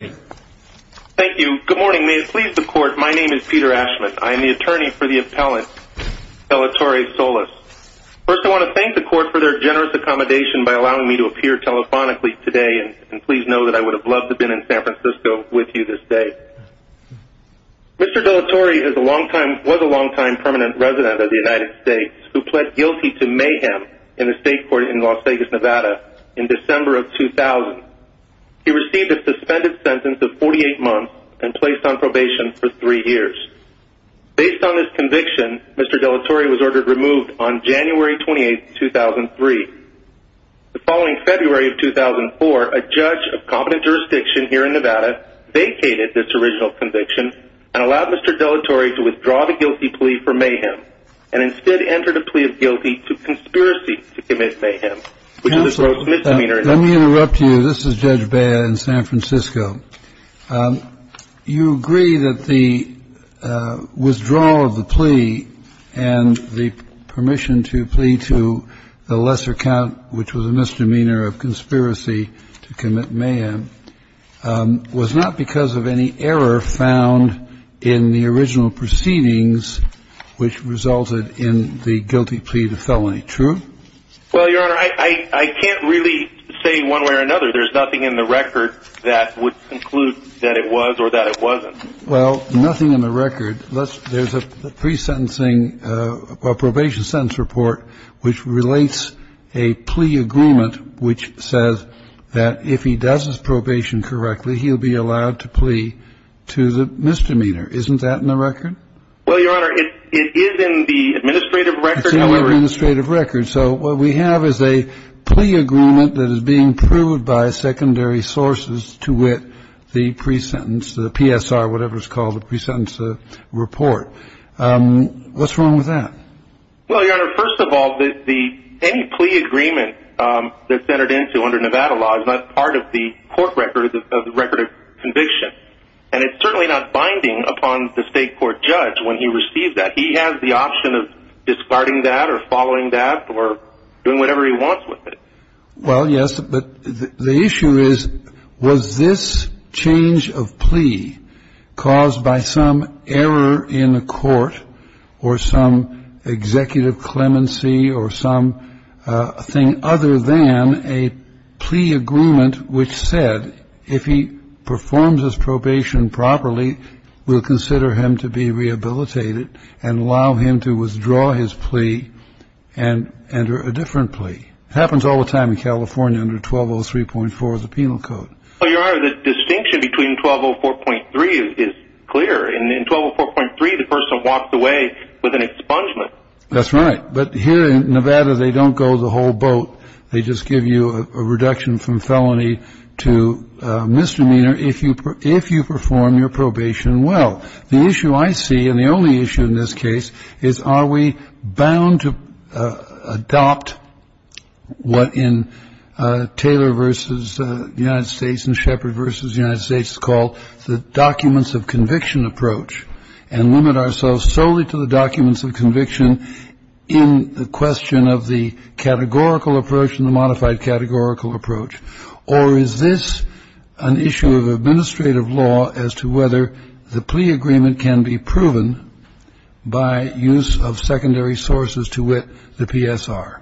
Thank you. Good morning. May it please the Court, my name is Peter Ashman. I am the attorney for the appellant Delatorre-Solis. First, I want to thank the Court for their generous accommodation by allowing me to appear telephonically today and please know that I would have loved to have been in San Francisco with you this day. Mr. Delatorre was a long-time permanent resident of the United States who pled guilty to mayhem in the state court in Las Vegas, Nevada in December of 2000. He received a suspended sentence of 48 months and placed on probation for 3 years. Based on this conviction, Mr. Delatorre was ordered removed on January 28, 2003. The following February of 2004, a judge of competent jurisdiction here in Nevada vacated this original conviction and allowed Mr. Delatorre to withdraw the guilty plea for mayhem and instead entered a plea of guilty to conspiracy to commit mayhem, which is a gross misdemeanor. Let me interrupt you. This is Judge Bea in San Francisco. You agree that the withdrawal of the plea and the permission to plea to the lesser count, which was a misdemeanor of conspiracy to commit mayhem, was not because of any error found in the original proceedings, which resulted in the guilty plea to felony, true? Well, Your Honor, I can't really say one way or another. There's nothing in the record that would conclude that it was or that it wasn't. Well, nothing in the record. There's a pre-sentencing or probation sentence report which relates a plea agreement which says that if he does his probation correctly, he'll be allowed to plea to the misdemeanor. Isn't that in the record? Well, Your Honor, it is in the administrative record. It's in the administrative record. So what we have is a plea agreement that is being proved by secondary sources to wit the pre-sentence, the PSR, whatever it's called, the pre-sentence report. What's wrong with that? Well, Your Honor, first of all, any plea agreement that's entered into under Nevada law is not part of the court record of the record of conviction, and it's certainly not binding upon the state court judge when he receives that. He has the option of discarding that or following that or doing whatever he wants with it. Well, yes, but the issue is was this change of plea caused by some error in the court or some executive clemency or something other than a plea agreement which said if he performs his probation properly, we'll consider him to be rehabilitated and allow him to withdraw his plea and enter a different plea. It happens all the time in California under 1203.4 of the penal code. Well, Your Honor, the distinction between 1204.3 is clear. In 1204.3, the person walks away with an expungement. That's right. But here in Nevada, they don't go the whole boat. They just give you a reduction from felony to misdemeanor if you perform your probation well. The issue I see, and the only issue in this case, is are we bound to adopt what in Taylor versus the United States and Shepard versus the United States is called the documents of conviction approach and limit ourselves solely to the documents of conviction in the question of the categorical approach and the modified categorical approach, or is this an issue of administrative law as to whether the plea agreement can be proven by use of secondary sources to wit the PSR?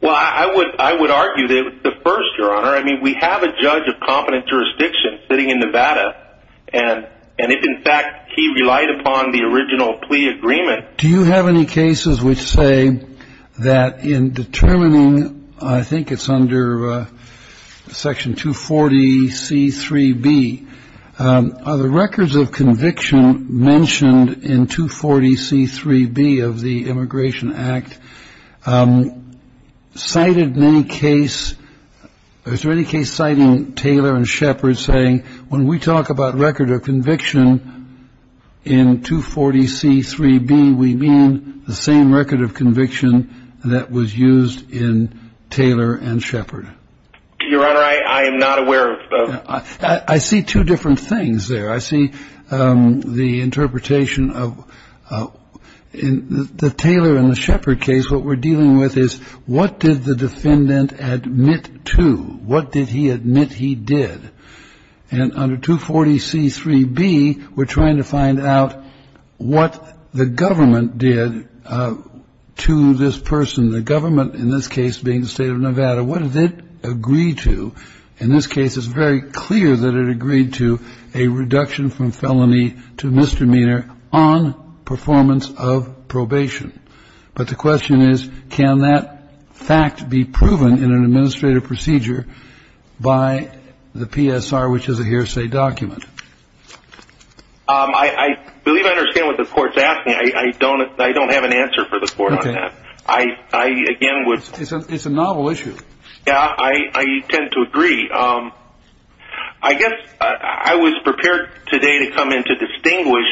Well, I would argue that the first, Your Honor, I mean, we have a judge of competent jurisdiction sitting in Nevada, and if in fact he relied upon the original plea agreement. Do you have any cases which say that in determining, I think it's under Section 240C3B, are the records of conviction mentioned in 240C3B of the Immigration Act cited in any case, or is there any case citing Taylor and Shepard saying when we talk about record of conviction in 240C3B, we mean the same record of conviction that was used in Taylor and Shepard? Your Honor, I am not aware of those. I see two different things there. I see the interpretation of the Taylor and the Shepard case. What we're dealing with is what did the defendant admit to? What did he admit he did? And under 240C3B, we're trying to find out what the government did to this person. The government in this case being the state of Nevada. What did it agree to? In this case, it's very clear that it agreed to a reduction from felony to misdemeanor on performance of probation. But the question is, can that fact be proven in an administrative procedure by the PSR, which is a hearsay document? I believe I understand what the Court's asking. I don't have an answer for the Court on that. I, again, would... It's a novel issue. Yeah, I tend to agree. I guess I was prepared today to come in to distinguish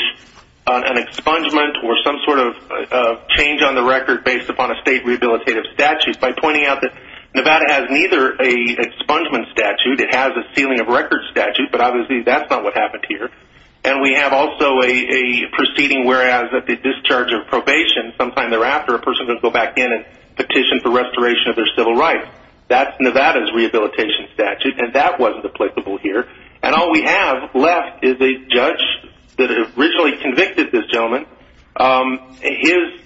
an expungement or some sort of change on the record based upon a state rehabilitative statute by pointing out that Nevada has neither an expungement statute. It has a sealing of records statute, but obviously that's not what happened here. And we have also a proceeding whereas at the discharge of probation, sometime thereafter, a person can go back in and petition for restoration of their civil rights. That's Nevada's rehabilitation statute, and that wasn't applicable here. And all we have left is a judge that originally convicted this gentleman, his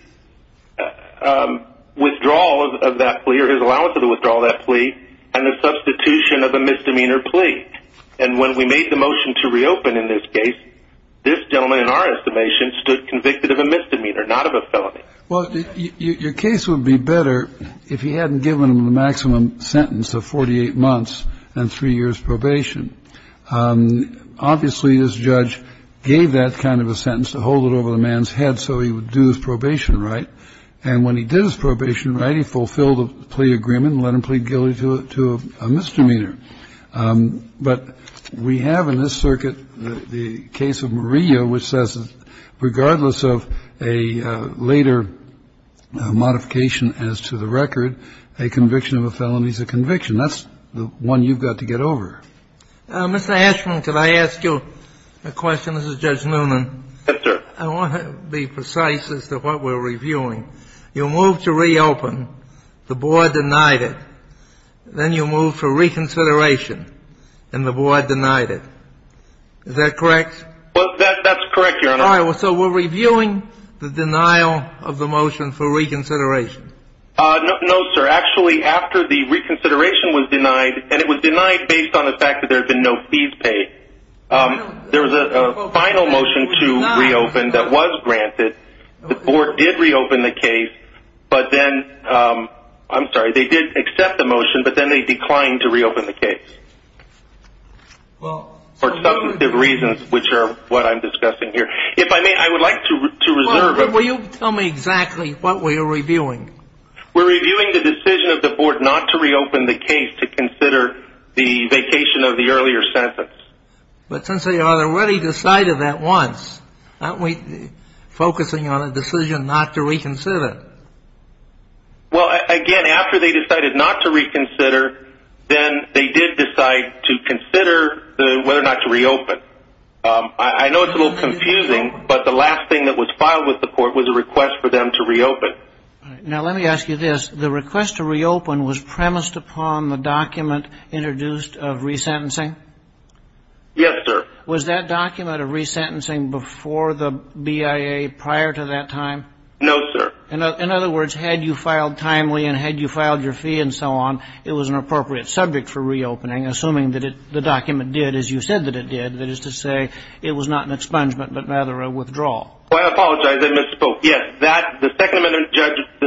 withdrawal of that plea or his allowance of the withdrawal of that plea, and the substitution of a misdemeanor plea. And when we made the motion to reopen in this case, this gentleman, in our estimation, stood convicted of a misdemeanor, not of a felony. Well, your case would be better if he hadn't given him the maximum sentence of 48 months and three years' probation. Obviously, this judge gave that kind of a sentence to hold it over the man's head so he would do his probation right. And when he did his probation right, he fulfilled the plea agreement and let him plead guilty to a misdemeanor. But we have in this circuit the case of Murillo, which says that regardless of a later modification as to the record, a conviction of a felony is a conviction. That's the one you've got to get over. Mr. Ashman, could I ask you a question? This is Judge Noonan. I want to be precise as to what we're reviewing. You moved to reopen. The board denied it. Then you moved for reconsideration, and the board denied it. Is that correct? Well, that's correct, Your Honor. All right. So we're reviewing the denial of the motion for reconsideration. No, sir. Actually, after the reconsideration was denied, and it was denied based on the fact that there had been no fees paid, there was a final motion to reopen that was granted. The board did reopen the case. I'm sorry. They did accept the motion, but then they declined to reopen the case for substantive reasons, which are what I'm discussing here. If I may, I would like to reserve a moment. Will you tell me exactly what we are reviewing? We're reviewing the decision of the board not to reopen the case to consider the vacation of the earlier sentence. But since they already decided that once, aren't we focusing on a decision not to reconsider? Well, again, after they decided not to reconsider, then they did decide to consider whether or not to reopen. I know it's a little confusing, but the last thing that was filed with the court was a request for them to reopen. Now, let me ask you this. The request to reopen was premised upon the document introduced of resentencing? Yes, sir. Was that document of resentencing before the BIA prior to that time? No, sir. In other words, had you filed timely and had you filed your fee and so on, it was an appropriate subject for reopening, assuming that the document did as you said that it did, that is to say it was not an expungement but rather a withdrawal. I apologize. I misspoke. Yes, the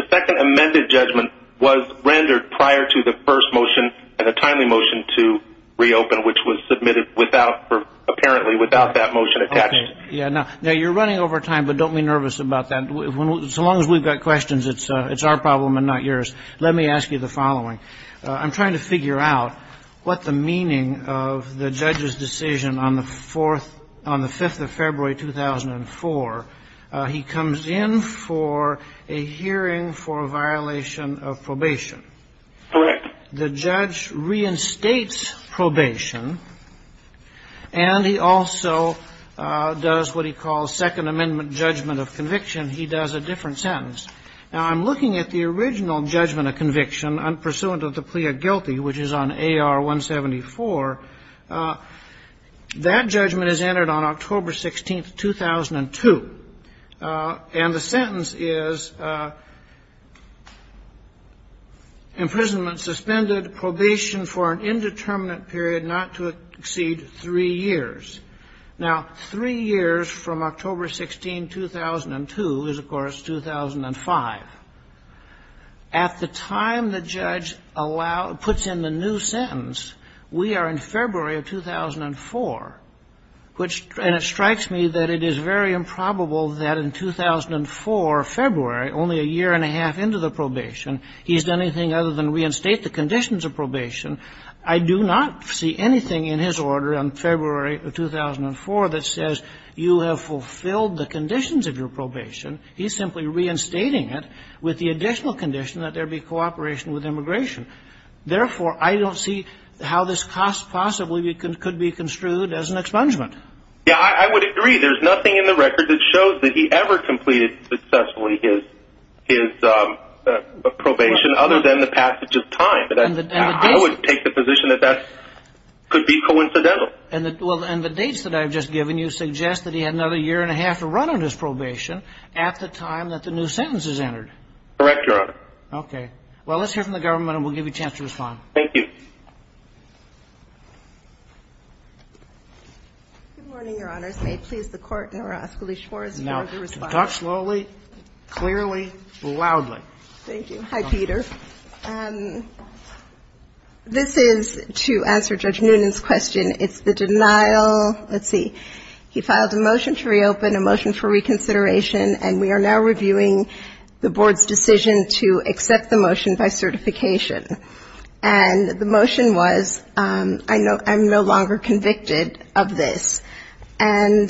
second amended judgment was rendered prior to the first motion and a timely motion to reopen, which was submitted apparently without that motion attached. Now, you're running over time, but don't be nervous about that. So long as we've got questions, it's our problem and not yours. Let me ask you the following. I'm trying to figure out what the meaning of the judge's decision on the 5th of February, 2004. He comes in for a hearing for a violation of probation. Correct. The judge reinstates probation, and he also does what he calls second amendment judgment of conviction. He does a different sentence. Now, I'm looking at the original judgment of conviction, unpursuant of the plea of guilty, which is on AR-174. That judgment is entered on October 16, 2002. And the sentence is, Imprisonment suspended, probation for an indeterminate period not to exceed 3 years. Now, 3 years from October 16, 2002 is, of course, 2005. At the time the judge puts in the new sentence, we are in February of 2004. And it strikes me that it is very improbable that in 2004, February, only a year and a half into the probation, he's done anything other than reinstate the conditions of probation. I do not see anything in his order on February of 2004 that says you have fulfilled the conditions of your probation. He's simply reinstating it with the additional condition that there be cooperation with immigration. Therefore, I don't see how this cost possibly could be construed as an expungement. Yeah, I would agree. There's nothing in the record that shows that he ever completed successfully his probation other than the passage of time. But I would take the position that that could be coincidental. And the dates that I've just given you suggest that he had another year and a half to run on his probation at the time that the new sentence is entered. Correct, Your Honor. Okay. Well, let's hear from the government, and we'll give you a chance to respond. Thank you. Good morning, Your Honors. May it please the Court, and I will ask Alicia Morris to respond. Now, talk slowly, clearly, loudly. Thank you. Hi, Peter. This is to answer Judge Noonan's question. It's the denial. Let's see. He filed a motion to reopen, a motion for reconsideration, and we are now reviewing the Board's decision to accept the motion by certification. And the motion was, I'm no longer convicted of this. And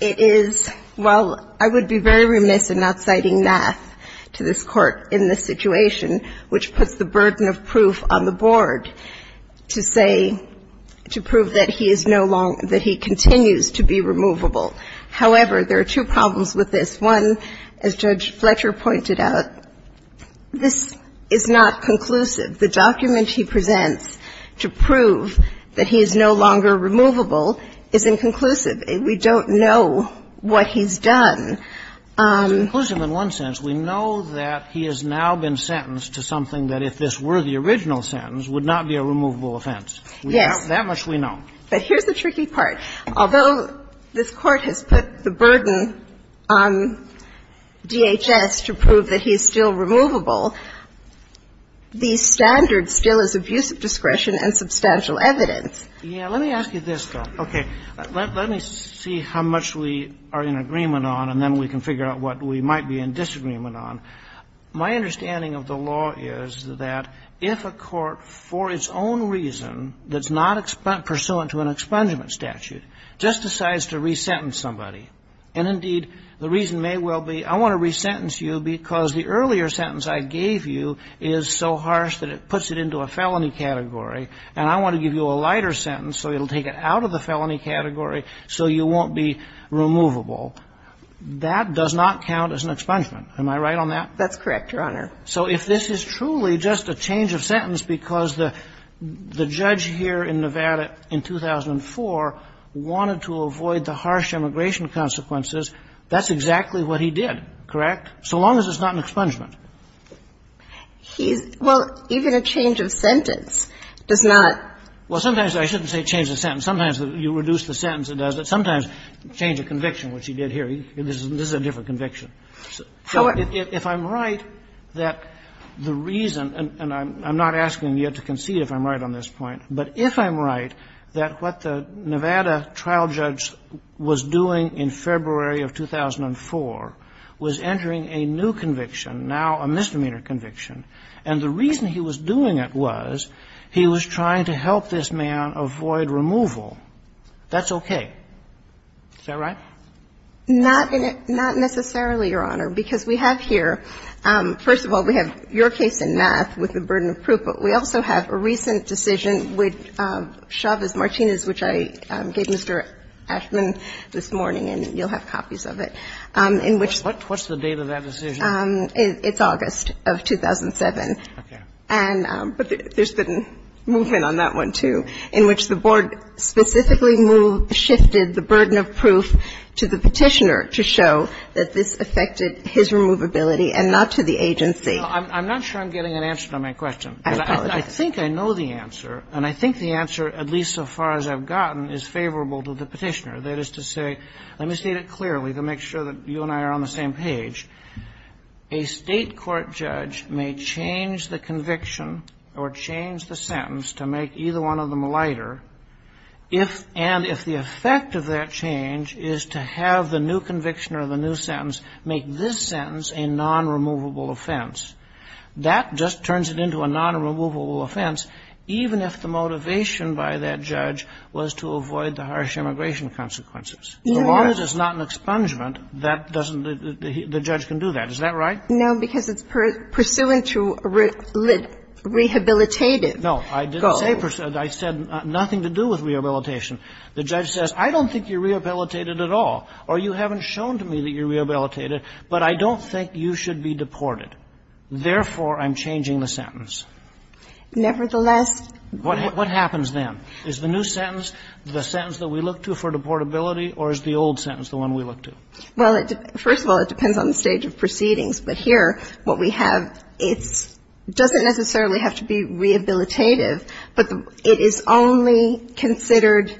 it is, while I would be very remiss in not citing math to this Court in this situation, which puts the burden of proof on the Board to say, to prove that he is no longer, that he continues to be removable. However, there are two problems with this. One, as Judge Fletcher pointed out, this is not conclusive. The document he presents to prove that he is no longer removable is inconclusive. We don't know what he's done. It's inconclusive in one sense. We know that he has now been sentenced to something that, if this were the original sentence, would not be a removable offense. Yes. That much we know. But here's the tricky part. Although this Court has put the burden on DHS to prove that he is still removable, the standard still is abusive discretion and substantial evidence. Yeah. Let me ask you this, though. Okay. Let me see how much we are in agreement on, and then we can figure out what we might be in disagreement on. My understanding of the law is that if a court, for its own reason, that's not pursuant to an expungement statute, just decides to resentence somebody, and indeed, the reason may well be I want to resentence you because the earlier sentence I gave you is so harsh that it puts it into a felony category, and I want to give you a lighter sentence so it will take it out of the felony category so you won't be removable, that does not count as an expungement. Am I right on that? That's correct, Your Honor. So if this is truly just a change of sentence because the judge here in Nevada in 2004 wanted to avoid the harsh immigration consequences, that's exactly what he did, correct? So long as it's not an expungement. He's – well, even a change of sentence does not – Well, sometimes I shouldn't say change of sentence. Sometimes you reduce the sentence, it does that. Sometimes change of conviction, which he did here. This is a different conviction. So if I'm right that the reason, and I'm not asking you to concede if I'm right on this point, but if I'm right that what the Nevada trial judge was doing in February of 2004 was entering a new conviction, now a misdemeanor conviction, and the reason he was doing it was he was trying to help this man avoid removal, that's okay. Is that right? Not necessarily, Your Honor, because we have here, first of all, we have your case in math with the burden of proof, but we also have a recent decision with Chavez Martinez, which I gave Mr. Ashman this morning, and you'll have copies of it, in which What's the date of that decision? It's August of 2007. Okay. But there's been movement on that one, too, in which the board specifically shifted the burden of proof to the Petitioner to show that this affected his removability and not to the agency. I'm not sure I'm getting an answer to my question. I think I know the answer, and I think the answer, at least so far as I've gotten, is favorable to the Petitioner, that is to say, let me state it clearly to make sure that you and I are on the same page. A State court judge may change the conviction or change the sentence to make either one of them lighter if and if the effect of that change is to have the new conviction or the new sentence make this sentence a non-removable offense. That just turns it into a non-removable offense, even if the motivation by that judge was to avoid the harsh immigration consequences. As long as it's not an expungement, that doesn't the judge can do that. Is that right? No, because it's pursuant to rehabilitative goals. No, I didn't say pursuant. I said nothing to do with rehabilitation. The judge says, I don't think you're rehabilitated at all, or you haven't shown to me that you're rehabilitated, but I don't think you should be deported. Therefore, I'm changing the sentence. Nevertheless. What happens then? Is the new sentence the sentence that we look to for deportability, or is the old sentence the one we look to? Well, first of all, it depends on the stage of proceedings. But here, what we have, it doesn't necessarily have to be rehabilitative, but it is only considered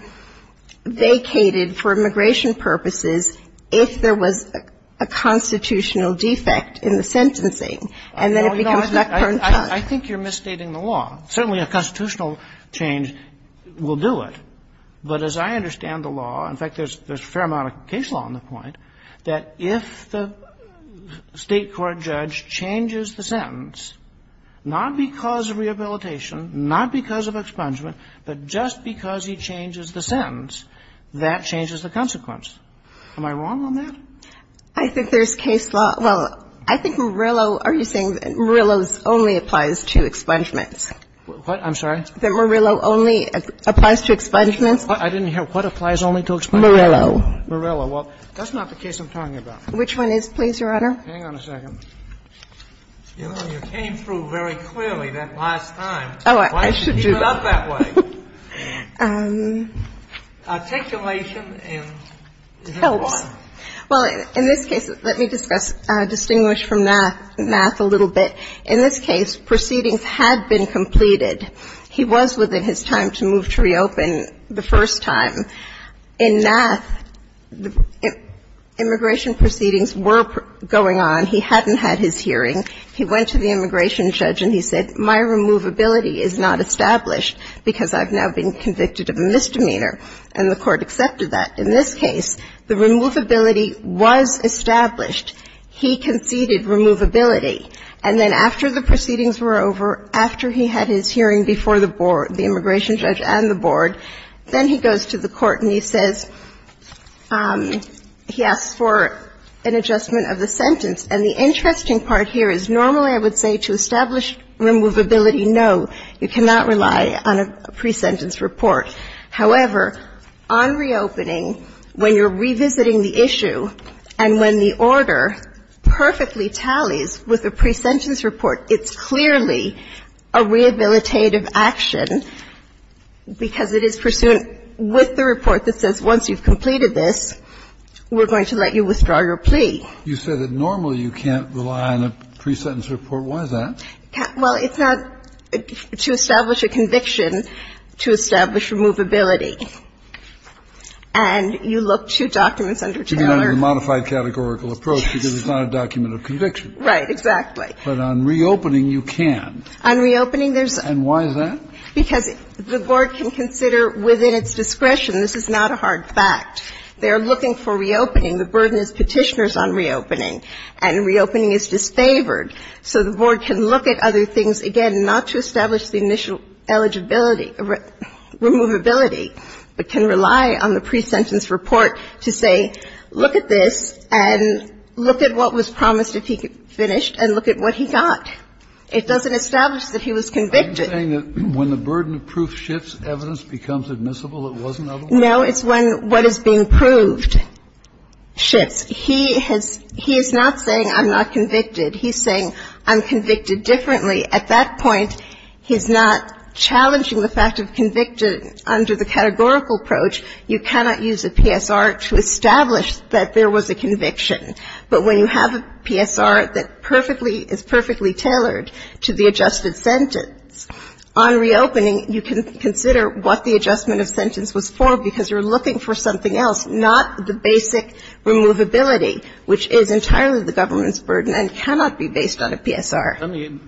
vacated for immigration purposes if there was a constitutional defect in the sentencing, and then it becomes not current time. I think you're misstating the law. Certainly a constitutional change will do it. But as I understand the law, in fact, there's a fair amount of case law on the point, that if the State court judge changes the sentence, not because of rehabilitation, not because of expungement, but just because he changes the sentence, that changes the consequence. Am I wrong on that? I think there's case law. Well, I think Murillo, are you saying that Murillo's only applies to expungements? What? I'm sorry? That Murillo only applies to expungements? I didn't hear. What applies only to expungements? Murillo. Murillo. Well, that's not the case I'm talking about. Which one is, please, Your Honor? Hang on a second. You know, you came through very clearly that last time. Oh, I should do that. Why don't you keep it up that way? Articulation and the other one. It helps. Well, in this case, let me discuss, distinguish from Nath a little bit. In this case, proceedings had been completed. He was within his time to move to reopen the first time. In Nath, immigration proceedings were going on. He hadn't had his hearing. He went to the immigration judge and he said, my removability is not established because I've now been convicted of a misdemeanor. And the Court accepted that. In this case, the removability was established. He conceded removability. And then after the proceedings were over, after he had his hearing before the board, the immigration judge and the board, then he goes to the court and he says, he asks for an adjustment of the sentence. And the interesting part here is normally I would say to establish removability, no, you cannot rely on a pre-sentence report. However, on reopening, when you're revisiting the issue and when the order perfectly tallies with a pre-sentence report, it's clearly a rehabilitative action. Because it is pursuant with the report that says once you've completed this, we're going to let you withdraw your plea. You said that normally you can't rely on a pre-sentence report. Why is that? Well, it's not to establish a conviction, to establish removability. And you look to documents under Taylor. You mean under the modified categorical approach because it's not a document of conviction. Right. Exactly. But on reopening, you can. On reopening, there's a. And why is that? Because the board can consider within its discretion. This is not a hard fact. They are looking for reopening. The burden is Petitioner's on reopening. And reopening is disfavored. So the board can look at other things, again, not to establish the initial eligibility or removability, but can rely on the pre-sentence report to say, look at this and look at what was promised if he finished and look at what he got. It doesn't establish that he was convicted. Are you saying that when the burden of proof shifts, evidence becomes admissible, it wasn't otherwise? No. It's when what is being proved shifts. He has he is not saying I'm not convicted. He's saying I'm convicted differently. At that point, he's not challenging the fact of convicted under the categorical approach. You cannot use a PSR to establish that there was a conviction. But when you have a PSR that perfectly is perfectly tailored to the adjusted sentence, on reopening, you can consider what the adjustment of sentence was for because you're looking for something else, not the basic removability, which is entirely the government's burden and cannot be based on a PSR. Let me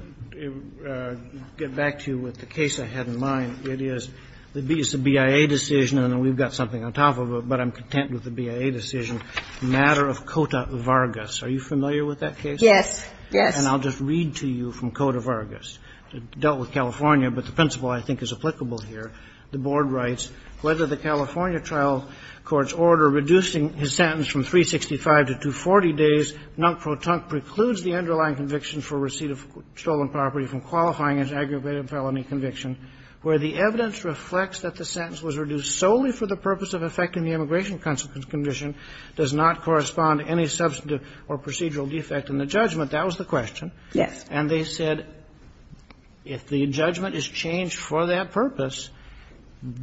get back to you with the case I had in mind. It is the BIA decision, and we've got something on top of it, but I'm content with the BIA decision, matter of Cota-Vargas. Are you familiar with that case? Yes. Yes. And I'll just read to you from Cota-Vargas. It dealt with California, but the principle I think is applicable here. The Board writes, Whether the California trial court's order reducing his sentence from 365 to 240 days, non pro tunk precludes the underlying conviction for receipt of stolen property from qualifying as aggravated felony conviction, where the evidence reflects that the sentence was reduced solely for the purpose of effecting the immigration consequence condition, does not correspond to any substantive or procedural defect in the judgment. That was the question. Yes. And they said if the judgment is changed for that purpose,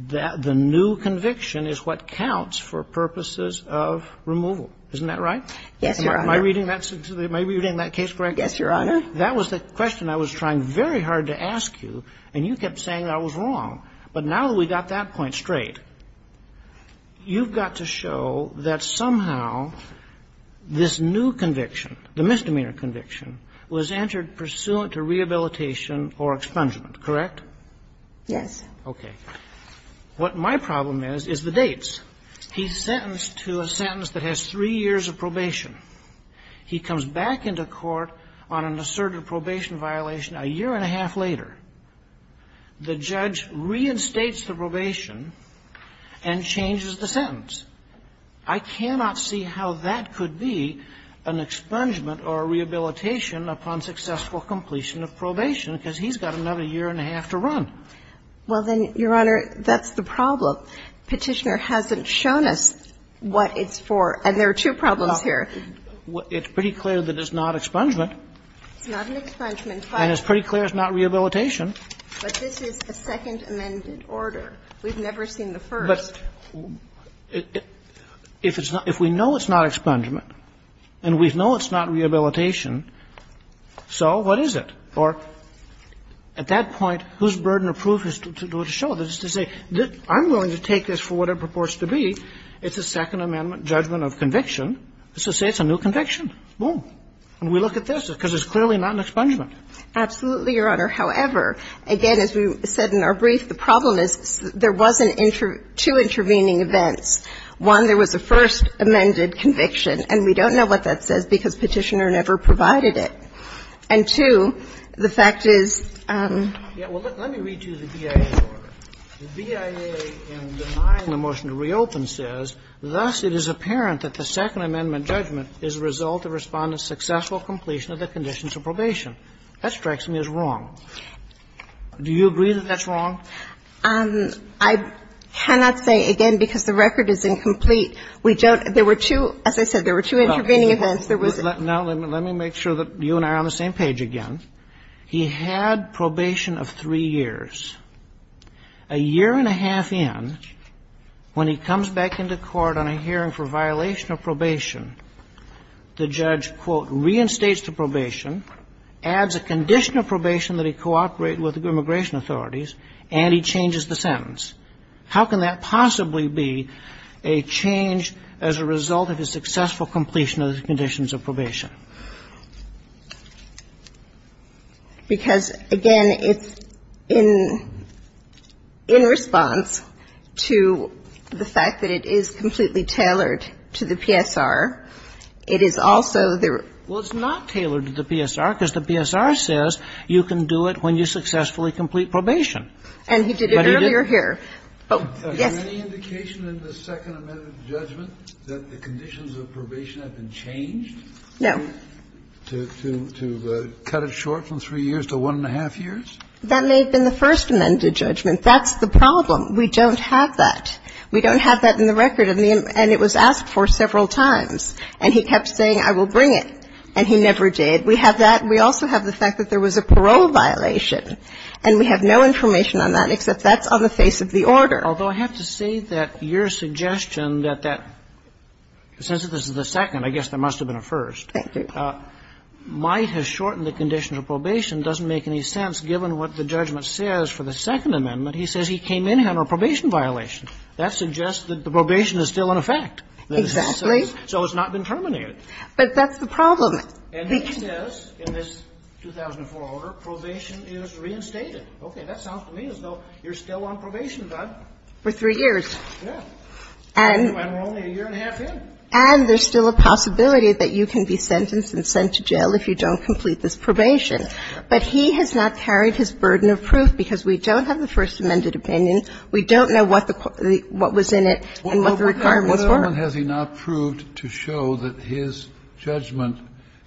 that the new conviction is what counts for purposes of removal. Isn't that right? Yes, Your Honor. Am I reading that case correctly? Yes, Your Honor. That was the question I was trying very hard to ask you, and you kept saying I was wrong. But now that we got that point straight, you've got to show that somehow this new conviction, the misdemeanor conviction, was entered pursuant to rehabilitation or expungement, correct? Yes. Okay. What my problem is, is the dates. He's sentenced to a sentence that has three years of probation. He comes back into court on an asserted probation violation a year and a half later. The judge reinstates the probation and changes the sentence. I cannot see how that could be an expungement or a rehabilitation upon successful completion of probation, because he's got another year and a half to run. Well, then, Your Honor, that's the problem. Petitioner hasn't shown us what it's for, and there are two problems here. It's pretty clear that it's not expungement. It's not an expungement. And it's pretty clear it's not rehabilitation. But this is a second amended order. We've never seen the first. But if it's not – if we know it's not expungement and we know it's not rehabilitation, so what is it? Or at that point, whose burden of proof is to show this, to say I'm willing to take this for what it purports to be, it's a Second Amendment judgment of conviction. So say it's a new conviction. Boom. And we look at this, because it's clearly not an expungement. Absolutely, Your Honor. However, again, as we said in our brief, the problem is there wasn't two intervening events. One, there was a first amended conviction. And we don't know what that says, because Petitioner never provided it. And two, the fact is – Yeah. Well, let me read to you the BIA order. The BIA in denying the motion to reopen says, Thus, it is apparent that the Second Amendment judgment is a result of Respondent's successful completion of the conditions of probation. That strikes me as wrong. Do you agree that that's wrong? I cannot say, again, because the record is incomplete. We don't – there were two – as I said, there were two intervening events. There was a – Now, let me make sure that you and I are on the same page again. He had probation of three years. A year and a half in, when he comes back into court on a hearing for violation of probation, the judge, quote, reinstates the probation, adds a condition of probation that he cooperate with immigration authorities, and he changes the sentence. How can that possibly be a change as a result of his successful completion of the conditions of probation? Because, again, it's in response to the fact that it is completely tailored to the PSR. It is also the – Well, it's not tailored to the PSR, because the PSR says you can do it when you successfully complete probation. And he did it earlier here. Yes. Is there any indication in the Second Amendment judgment that the conditions of probation have been changed? No. I'm sorry. To cut it short from three years to one and a half years? That may have been the First Amendment judgment. That's the problem. We don't have that. We don't have that in the record. And it was asked for several times. And he kept saying, I will bring it. And he never did. We have that. We also have the fact that there was a parole violation. And we have no information on that, except that's on the face of the order. Although, I have to say that your suggestion that that – since this is the second, I guess there must have been a first. Thank you. Might has shortened the conditions of probation doesn't make any sense, given what the judgment says for the Second Amendment. He says he came in on a probation violation. That suggests that the probation is still in effect. Exactly. So it's not been terminated. But that's the problem. And he says in this 2004 order, probation is reinstated. Okay. That sounds to me as though you're still on probation, Doug. For three years. Yes. And we're only a year and a half in. And there's still a possibility that you can be sentenced and sent to jail if you don't complete this probation. But he has not carried his burden of proof, because we don't have the First Amendment opinion. We don't know what the – what was in it and what the requirements were. Has he not proved to show that his judgment,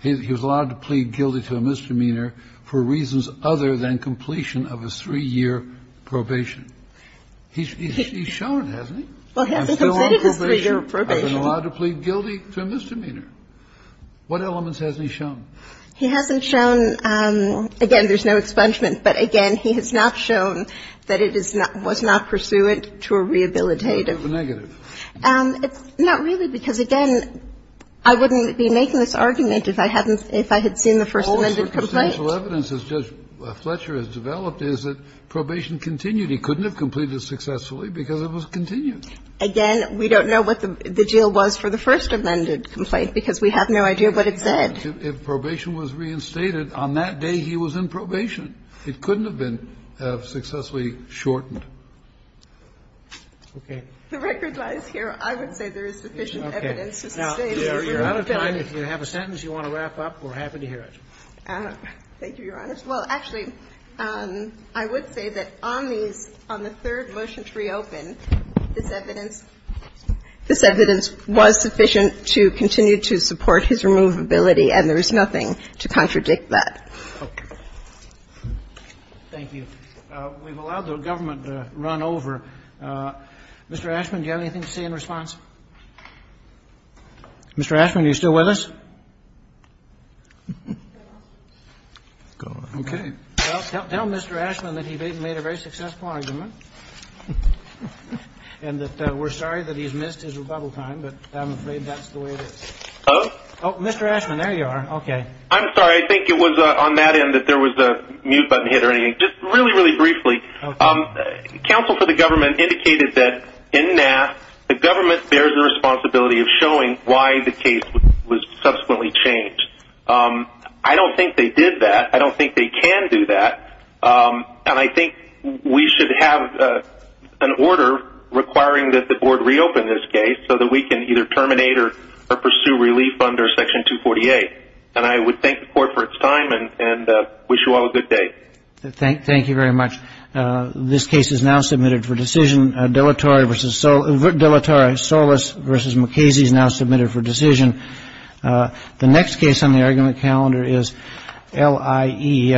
he was allowed to plead guilty to a misdemeanor for reasons other than completion of his three-year probation? He's shown, hasn't he? Well, he hasn't completed his three-year probation. I've been allowed to plead guilty to a misdemeanor. What elements hasn't he shown? He hasn't shown, again, there's no expungement, but again, he has not shown that it is not – was not pursuant to a rehabilitative. Negative. Not really, because again, I wouldn't be making this argument if I hadn't – if I had seen the First Amendment complaint. All the circumstantial evidence that Judge Fletcher has developed is that probation continued. He couldn't have completed it successfully because it was continued. Again, we don't know what the deal was for the First Amendment complaint, because we have no idea what it said. If probation was reinstated, on that day he was in probation. It couldn't have been successfully shortened. Okay. The record lies here. I would say there is sufficient evidence to sustain that he was reinstated. Okay. Now, we're out of time. If you have a sentence you want to wrap up, we're happy to hear it. Thank you, Your Honor. Well, actually, I would say that on these – on the third motion to reopen, this evidence – this evidence was sufficient to continue to support his removability, and there is nothing to contradict that. Okay. Thank you. We've allowed the government to run over. Mr. Ashman, do you have anything to say in response? Mr. Ashman, are you still with us? Go on. Okay. Well, tell Mr. Ashman that he made a very successful argument and that we're sorry that he's missed his rebuttal time, but I'm afraid that's the way it is. Oh? Oh, Mr. Ashman, there you are. Okay. I'm sorry. I think it was on that end that there was a mute button hit or anything. Just really, really briefly. Okay. Counsel for the government indicated that in NAF, the government bears the responsibility of showing why the case was subsequently changed. I don't think they did that. I don't think they can do that. And I think we should have an order requiring that the board reopen this case so that we can either terminate or pursue relief under Section 248. And I would thank the court for its time and wish you all a good day. Thank you very much. This case is now submitted for decision. Dellatorre v. Solis v. McKasey is now submitted for decision. The next case on the argument calendar is LIE.